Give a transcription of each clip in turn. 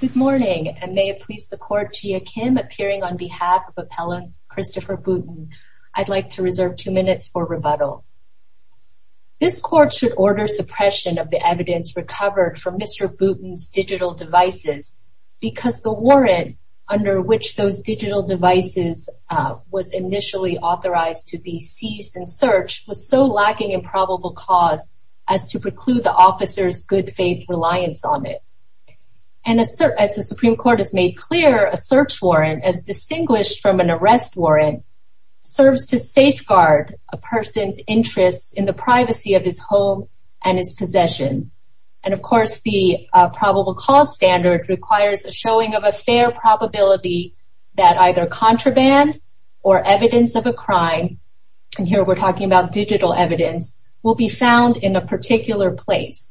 Good morning, and may it please the Court, Jia Kim appearing on behalf of Appellant Christopher Boutin, I'd like to reserve two minutes for rebuttal. This Court should order suppression of the evidence recovered from Mr. Boutin's digital devices because the warrant under which those digital devices was initially authorized to be seized and searched was so lacking in probable cause as to preclude the officer's good faith reliance on it. And as the Supreme Court has made clear, a search warrant, as distinguished from an arrest warrant, serves to safeguard a person's interests in the privacy of his home and his possessions. And of course, the probable cause standard requires a showing of a fair probability that either contraband or evidence of a crime, and here we're talking about digital evidence, will be found in a particular place.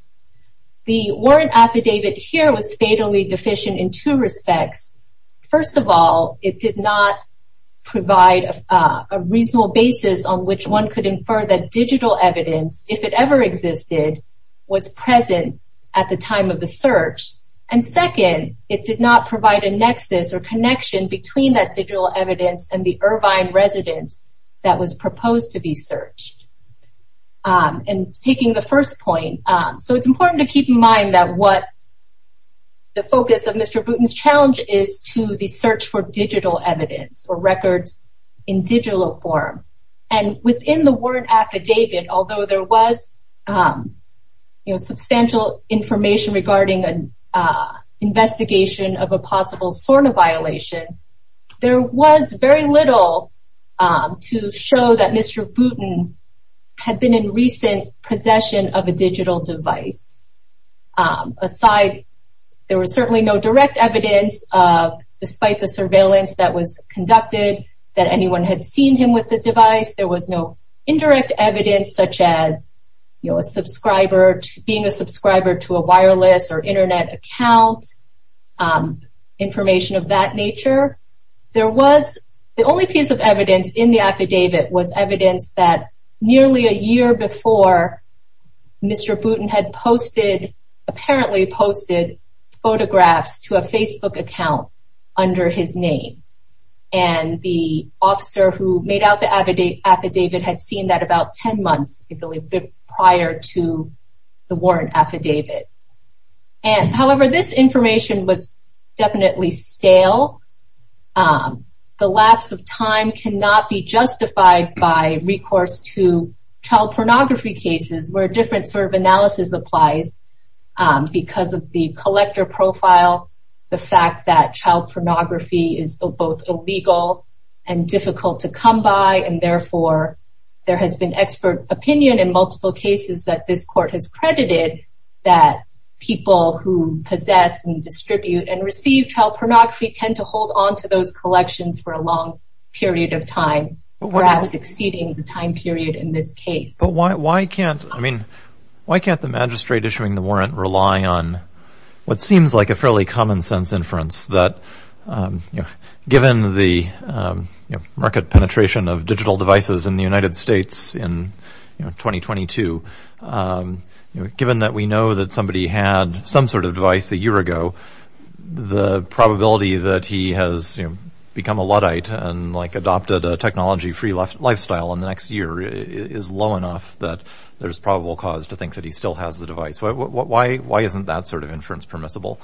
The warrant affidavit here was fatally deficient in two respects. First of all, it did not provide a reasonable basis on which one could infer that digital evidence, if it ever existed, was present at the time of the search. And second, it did not provide a nexus or connection between that digital evidence and the Irvine residence that was proposed to be searched. And taking the first point, so it's important to keep in mind that what the focus of Mr. Boutin's challenge is to the search for digital evidence or records in digital form. And within the warrant affidavit, although there was, you know, substantial information regarding an investigation of a possible SORNA violation, there was very little to show that Mr. Boutin had been in recent possession of a digital device. Aside, there was certainly no direct evidence, despite the surveillance that was conducted, that anyone had seen him with the device. There was no indirect evidence such as, you know, a subscriber, being a subscriber to a wireless or internet account, information of that nature. There was, the only piece of evidence in the affidavit was evidence that nearly a year before, Mr. Boutin had posted, apparently posted, photographs to a Facebook account under his name. And the officer who made out the affidavit had seen that about 10 months, I believe, prior to the warrant affidavit. However, this information was definitely stale. The lapse of time cannot be justified by recourse to child pornography cases, where a different sort of analysis applies because of the collector profile, the fact that child pornography is both illegal and difficult to come by, and therefore there has been expert opinion in multiple cases that this court has credited that people who possess and distribute and receive child pornography tend to hold onto those collections for a long period of time, perhaps exceeding the time period in this case. But why can't, I mean, why can't the magistrate issuing the warrant rely on what seems like a fairly in the United States in 2022? Given that we know that somebody had some sort of device a year ago, the probability that he has become a Luddite and, like, adopted a technology-free lifestyle in the next year is low enough that there's probable cause to think that he still has the device. Why isn't that sort of inference permissible?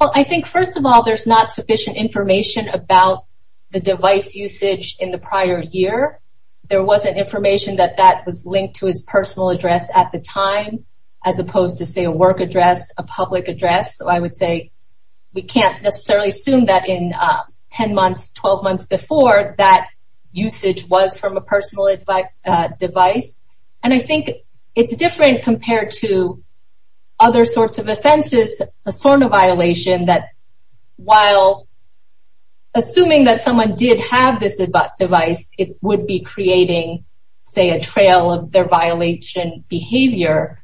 Well, I think, first of all, there's not sufficient information about the device usage in the prior year. There wasn't information that that was linked to his personal address at the time, as opposed to, say, a work address, a public address. So I would say we can't necessarily assume that in 10 months, 12 months before, that usage was from a personal device. And I think it's different compared to other sorts of offenses, a SORNA violation that, while assuming that someone did have this device, it would be creating, say, a trail of their violation behavior.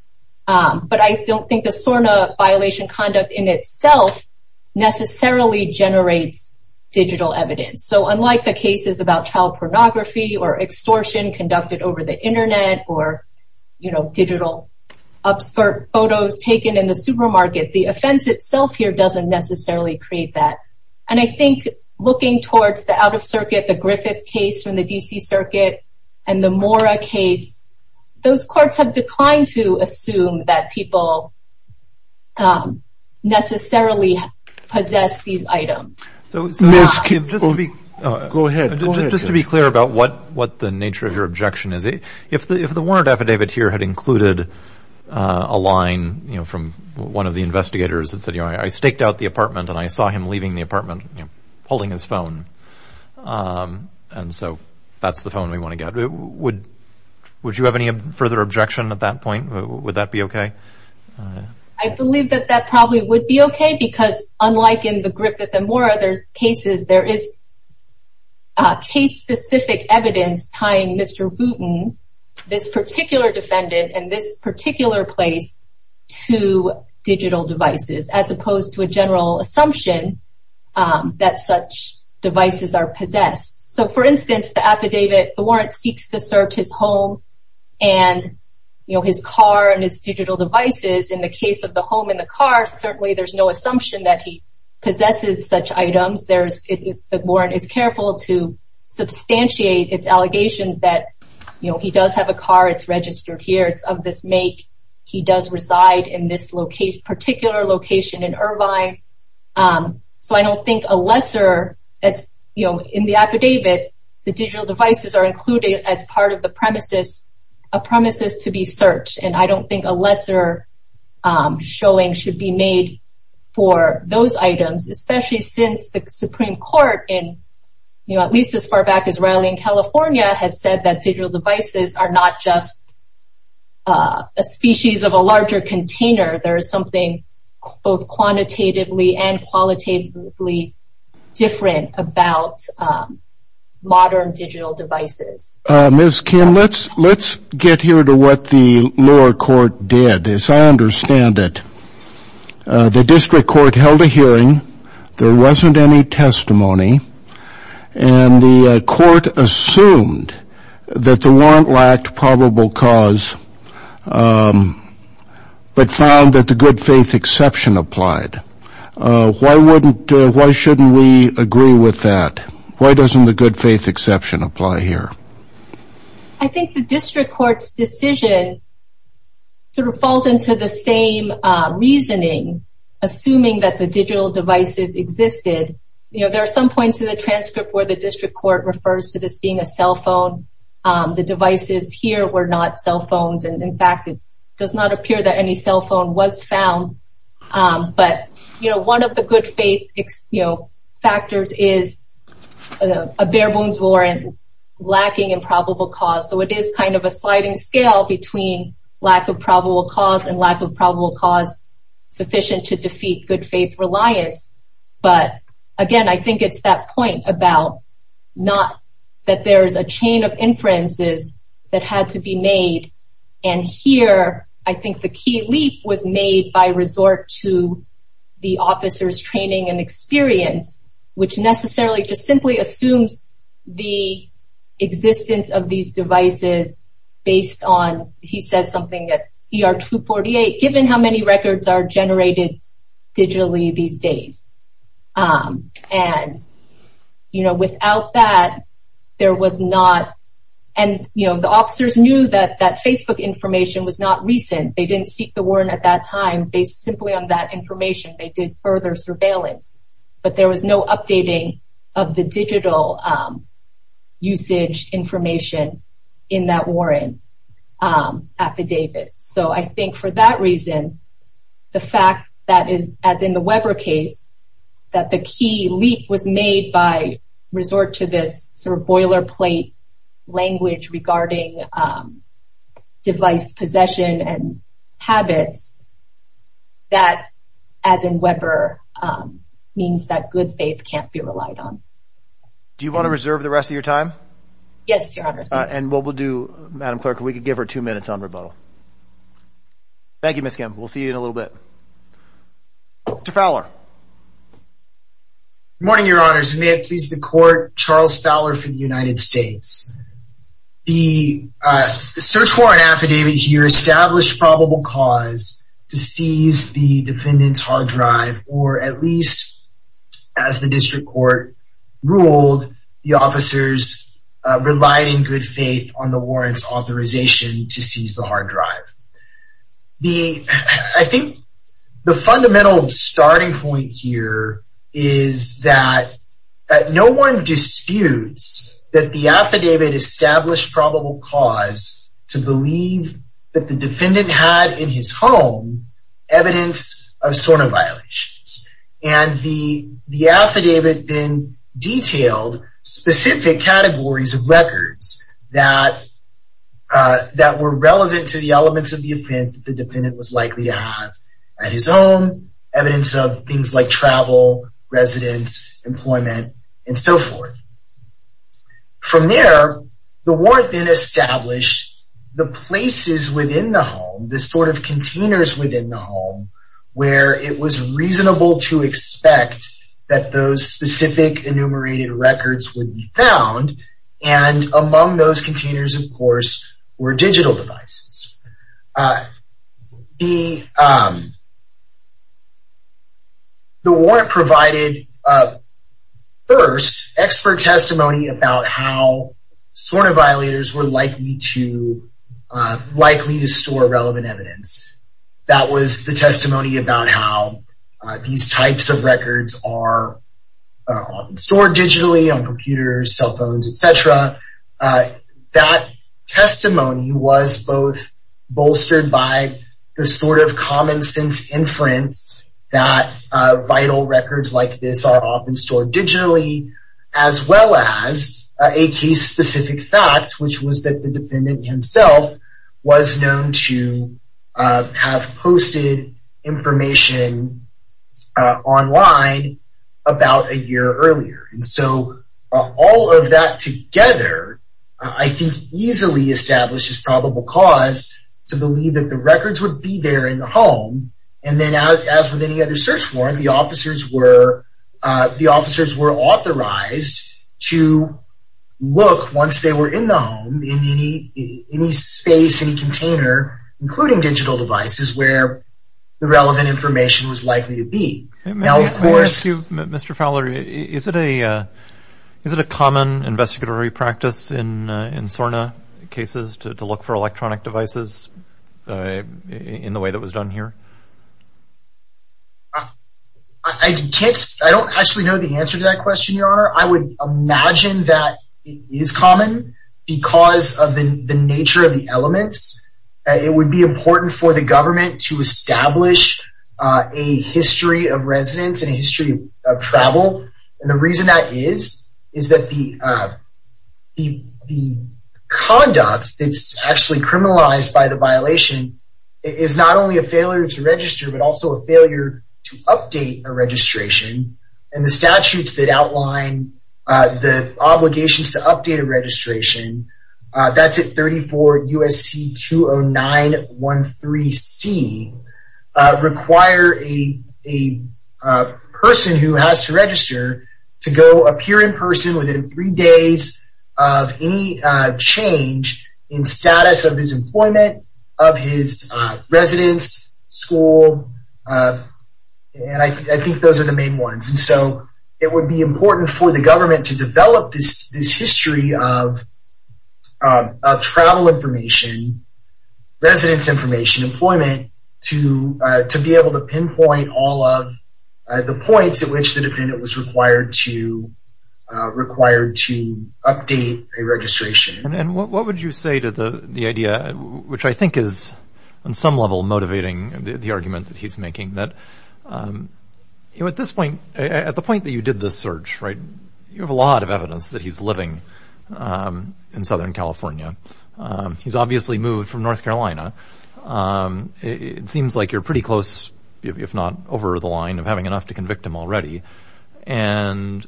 But I don't think the SORNA violation conduct in itself necessarily generates digital evidence. So unlike the cases about child pornography or extortion conducted over the Internet or, you know, digital upskirt photos taken in the supermarket, the offense itself here doesn't necessarily create that. And I think looking towards the out-of-circuit, the Griffith case from the D.C. Circuit, and the Mora case, those courts have declined to assume that people necessarily possess these items. Go ahead. Just to be clear about what the nature of your objection is, if the warrant affidavit here had included a line, you know, from one of the investigators that said, you know, I staked out the apartment and I saw him leaving the apartment, you know, holding his phone, and so that's the phone we want to get. Would you have any further objection at that point? Would that be okay? I believe that that probably would be okay because unlike in the Griffith and Mora cases, there is case-specific evidence tying Mr. Wooten, this particular defendant, and this particular place to digital devices, as opposed to a general assumption that such devices are possessed. So, for instance, the affidavit, the warrant seeks to search his home and, you know, his car and his digital devices. In the case of the home and the car, certainly there's no assumption that he possesses such items. The warrant is careful to substantiate its allegations that, you know, he does have a car. It's registered here. It's of this make. He does reside in this particular location in Irvine. So I don't think a lesser, you know, in the affidavit, the digital devices are included as part of the premises, a premises to be searched. And I don't think a lesser showing should be made for those items, especially since the Supreme Court in, you know, at least as far back as Raleigh, California, has said that digital devices are not just a species of a larger container. There is something both quantitatively and qualitatively different about modern digital devices. Ms. Kim, let's get here to what the lower court did. As I understand it, the district court held a hearing. There wasn't any testimony. And the court assumed that the warrant lacked probable cause but found that the good faith exception applied. Why wouldn't, why shouldn't we agree with that? Why doesn't the good faith exception apply here? I think the district court's decision sort of falls into the same reasoning, assuming that the digital devices existed. You know, there are some points in the transcript where the district court refers to this being a cell phone. The devices here were not cell phones. And, in fact, it does not appear that any cell phone was found. But, you know, one of the good faith, you know, factors is a bare-bones warrant lacking in probable cause. So it is kind of a sliding scale between lack of probable cause and lack of probable cause sufficient to defeat good faith reliance. But, again, I think it's that point about not that there is a chain of inferences that had to be made. And here, I think the key leap was made by resort to the officer's training and experience, which necessarily just simply assumes the existence of these devices based on, he says something at ER 248, given how many records are generated digitally these days. And, you know, without that, there was not, and, you know, the officers knew that that Facebook information was not recent. They didn't seek the warrant at that time based simply on that information. They did further surveillance. But there was no updating of the digital usage information in that warrant affidavit. So I think for that reason, the fact that is, as in the Weber case, that the key leap was made by resort to this sort of boilerplate language regarding device possession and habits, that, as in Weber, means that good faith can't be relied on. Do you want to reserve the rest of your time? Yes, Your Honor. And what we'll do, Madam Clerk, if we could give her two minutes on rebuttal. Thank you, Ms. Kim. We'll see you in a little bit. Mr. Fowler. Good morning, Your Honor. May it please the Court, Charles Fowler for the United States. The search warrant affidavit here established probable cause to seize the defendant's hard drive, or at least, as the district court ruled, the officers relied in good faith on the warrant's authorization to seize the hard drive. I think the fundamental starting point here is that no one disputes that the affidavit established probable cause to believe that the defendant had in his home evidence of stolen violations. And the affidavit then detailed specific categories of records that were relevant to the elements of the offense that the defendant was likely to have at his home, evidence of things like travel, residence, employment, and so forth. From there, the warrant then established the places within the home, the sort of containers within the home, where it was reasonable to expect that those specific enumerated records would be found, and among those containers, of course, were digital devices. The warrant provided, first, expert testimony about how stolen violators were likely to store relevant evidence. That was the testimony about how these types of records are often stored digitally on computers, cell phones, etc. That testimony was both bolstered by the sort of common-sense inference that vital records like this are often stored digitally, as well as a case-specific fact, which was that the defendant himself was known to have posted information online about a year earlier. And so, all of that together, I think, easily establishes probable cause to believe that the records would be there in the home. And then, as with any other search warrant, the officers were authorized to look, once they were in the home, in any space, any container, including digital devices, where the relevant information was likely to be. May I ask you, Mr. Fowler, is it a common investigatory practice in SORNA cases to look for electronic devices in the way that was done here? I don't actually know the answer to that question, Your Honor. I would imagine that it is common because of the nature of the elements. It would be important for the government to establish a history of residence and a history of travel. And the reason that is, is that the conduct that's actually criminalized by the violation is not only a failure to register, but also a failure to update a registration. And the statutes that outline the obligations to update a registration, that's at 34 U.S.C. 209-13C, require a person who has to register to go appear in person within three days of any change in status of his employment, of his residence, school. And I think those are the main ones. And so it would be important for the government to develop this history of travel information, residence information, employment, to be able to pinpoint all of the points at which the defendant was required to update a registration. And what would you say to the idea, which I think is on some level motivating the argument that he's making, that at this point, at the point that you did this search, right, you have a lot of evidence that he's living in Southern California. He's obviously moved from North Carolina. It seems like you're pretty close, if not over the line, of having enough to convict him already. And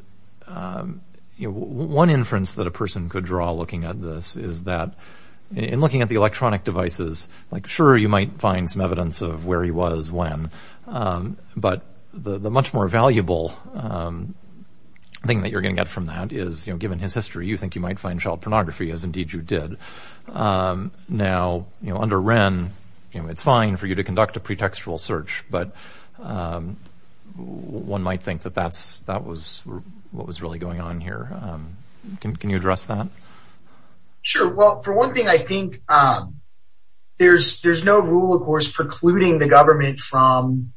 one inference that a person could draw looking at this is that in looking at the electronic devices, like sure, you might find some evidence of where he was when, but the much more valuable thing that you're going to get from that is, given his history, you think you might find child pornography, as indeed you did. Now, under Wren, it's fine for you to conduct a pretextual search, but one might think that that was what was really going on here. Can you address that? Sure. Well, for one thing, I think there's no rule, of course, precluding the government from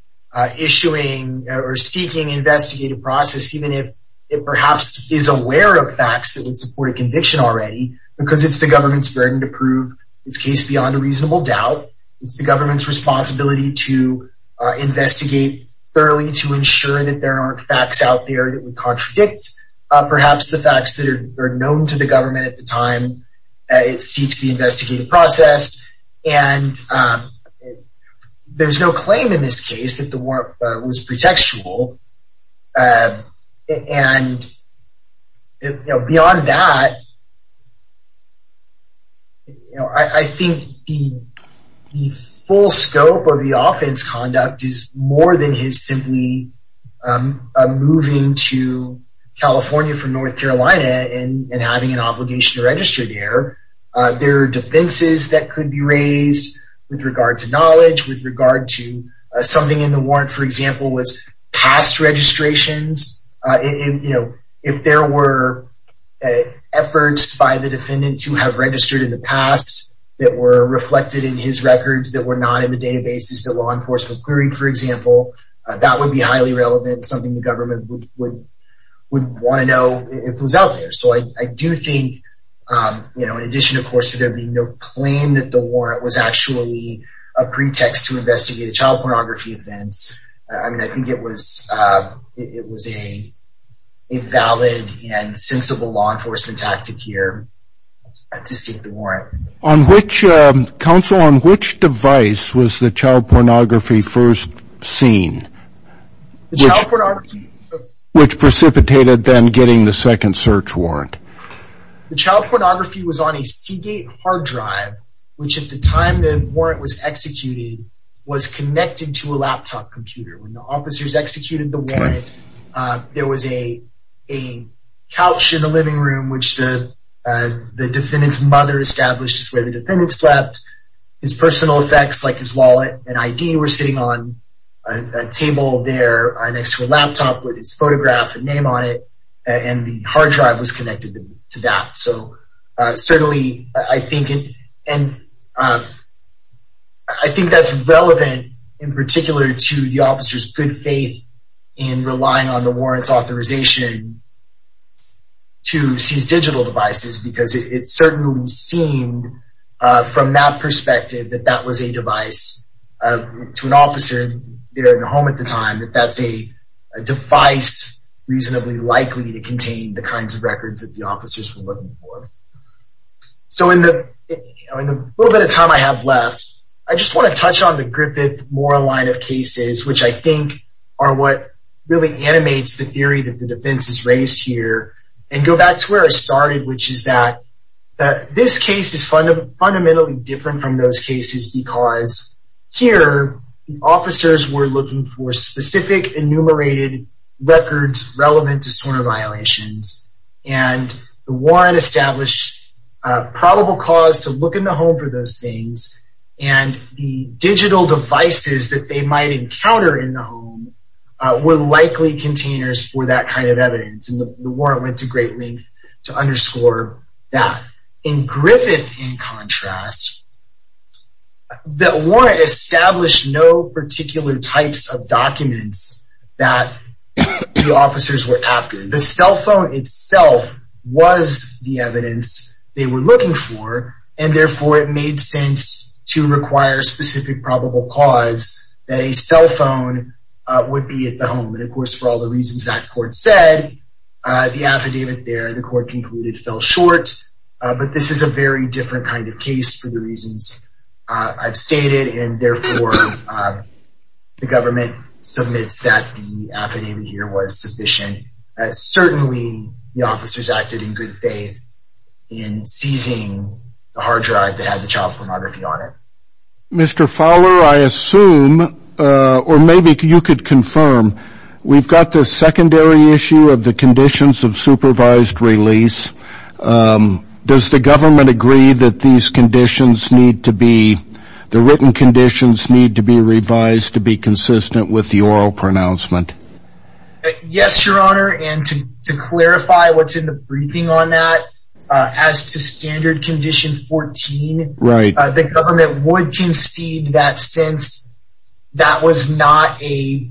issuing or seeking investigative process, even if it perhaps is aware of facts that would support a conviction already, because it's the government's burden to prove its case beyond a reasonable doubt. It's the government's responsibility to investigate thoroughly to ensure that there aren't facts out there that would contradict perhaps the facts that are known to the government at the time it seeks the investigative process. And there's no claim in this case that the war was pretextual. And beyond that, I think the full scope of the offense conduct is more than his simply moving to California from North Carolina and having an obligation to register there. There are defenses that could be raised with regard to knowledge, with regard to something in the warrant, for example, was past registrations. If there were efforts by the defendant to have registered in the past that were reflected in his records that were not in the databases, the law enforcement query, for example, that would be highly relevant, something the government would want to know if it was out there. So I do think in addition, of course, to there being no claim that the warrant was actually a pretext to investigate a child pornography offense, I mean, I think it was a valid and sensible law enforcement tactic here to seek the warrant. Counsel, on which device was the child pornography first seen, which precipitated then getting the second search warrant? The child pornography was on a Seagate hard drive, which at the time the warrant was executed was connected to a laptop computer. When the officers executed the warrant, there was a couch in the living room, which the defendant's mother established is where the defendant slept. His personal effects like his wallet and ID were sitting on a table there next to a laptop with his photograph and name on it, and the hard drive was connected to that. So certainly I think that's relevant in particular to the officer's good faith in relying on the warrant's authorization to seize digital devices, because it certainly seemed from that perspective that that was a device to an officer there in the home at the time, that that's a device reasonably likely to contain the kinds of records that the officers were looking for. So in the little bit of time I have left, I just want to touch on the Griffith-Mora line of cases, which I think are what really animates the theory that the defense is raised here, and go back to where I started, which is that this case is fundamentally different from those cases because here, officers were looking for specific enumerated records relevant to sort of violations, and the warrant established probable cause to look in the home for those things, and the digital devices that they might encounter in the home were likely containers for that kind of evidence, and the warrant went to great length to underscore that. In Griffith, in contrast, the warrant established no particular types of documents that the officers were after. The cell phone itself was the evidence they were looking for, and therefore it made sense to require specific probable cause that a cell phone would be at the home, and of course for all the reasons that court said, the affidavit there, the court concluded, fell short, but this is a very different kind of case for the reasons I've stated, and therefore the government submits that the affidavit here was sufficient. Certainly, the officers acted in good faith in seizing the hard drive that had the child pornography on it. Mr. Fowler, I assume, or maybe you could confirm, we've got the secondary issue of the conditions of supervised release. Does the government agree that these conditions need to be, the written conditions need to be revised to be consistent with the oral pronouncement? Yes, Your Honor, and to clarify what's in the briefing on that, as to standard condition 14, the government would concede that since that was not a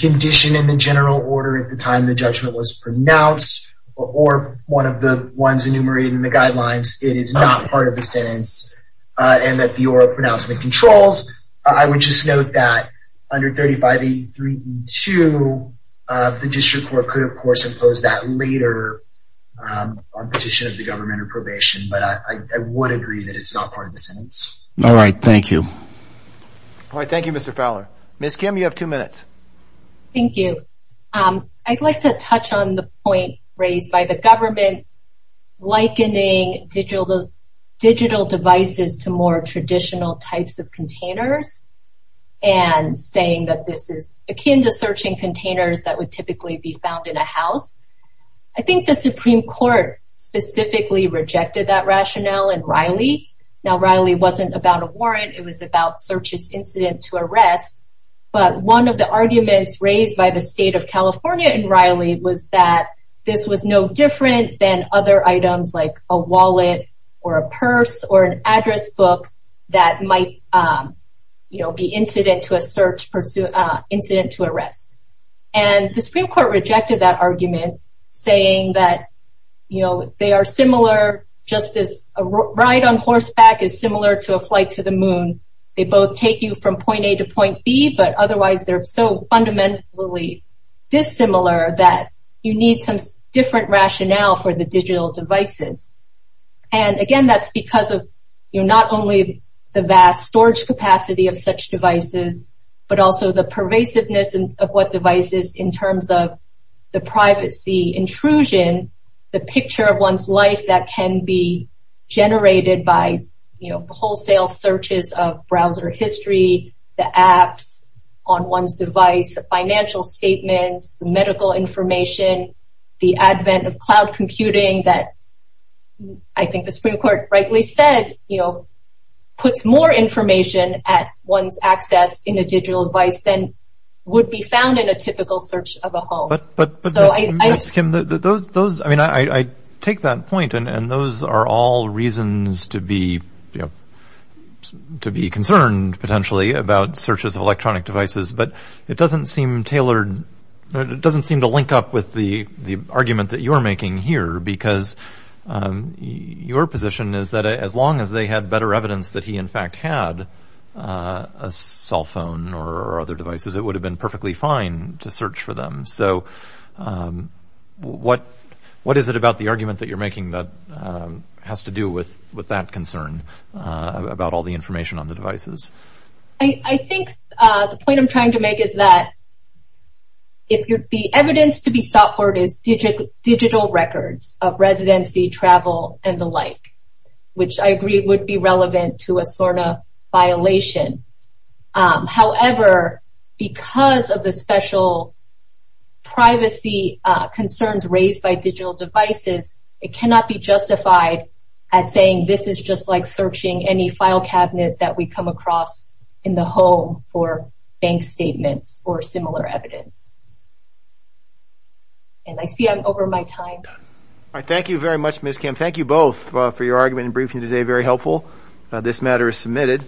condition in the general order at the time the judgment was pronounced, or one of the ones enumerated in the guidelines, it is not part of the sentence, and that the oral pronouncement controls. I would just note that under 3583.2, the district court could, of course, impose that later on petition of the government or probation, but I would agree that it's not part of the sentence. All right, thank you. All right, thank you, Mr. Fowler. Ms. Kim, you have two minutes. Thank you. I'd like to touch on the point raised by the government likening digital devices to more traditional types of containers, and saying that this is akin to searching containers that would typically be found in a house. I think the Supreme Court specifically rejected that rationale in Riley. Now, Riley wasn't about a warrant. It was about searches incident to arrest, but one of the arguments raised by the state of California in Riley was that this was no different than other items like a wallet or a purse or an address book that might be incident to arrest. And the Supreme Court rejected that argument, saying that they are similar just as a ride on horseback is similar to a flight to the moon. They both take you from point A to point B, but otherwise they're so fundamentally dissimilar that you need some different rationale for the digital devices. And again, that's because of not only the vast storage capacity of such devices, but also the pervasiveness of what devices in terms of the privacy intrusion, the picture of one's life that can be generated by wholesale searches of browser history, the apps on one's device, financial statements, medical information, the advent of cloud computing that I think the Supreme Court rightly said puts more information at one's access in a digital device than would be found in a typical search of a home. But those I mean, I take that point. And those are all reasons to be to be concerned potentially about searches of electronic devices. But it doesn't seem tailored. It doesn't seem to link up with the argument that you're making here, because your position is that as long as they had better evidence that he in fact had a cell phone or other devices, it would have been perfectly fine to search for them. So what is it about the argument that you're making that has to do with that concern about all the information on the devices? I think the point I'm trying to make is that if the evidence to be sought for is digital records of residency, travel, and the like, which I agree would be relevant to a SORNA violation. However, because of the special privacy concerns raised by digital devices, it cannot be justified as saying this is just like searching any file cabinet that we come across in the home for bank statements or similar evidence. And I see I'm over my time. Thank you very much, Ms. Kim. Thank you both for your argument and briefing today. Very helpful. This matter is submitted.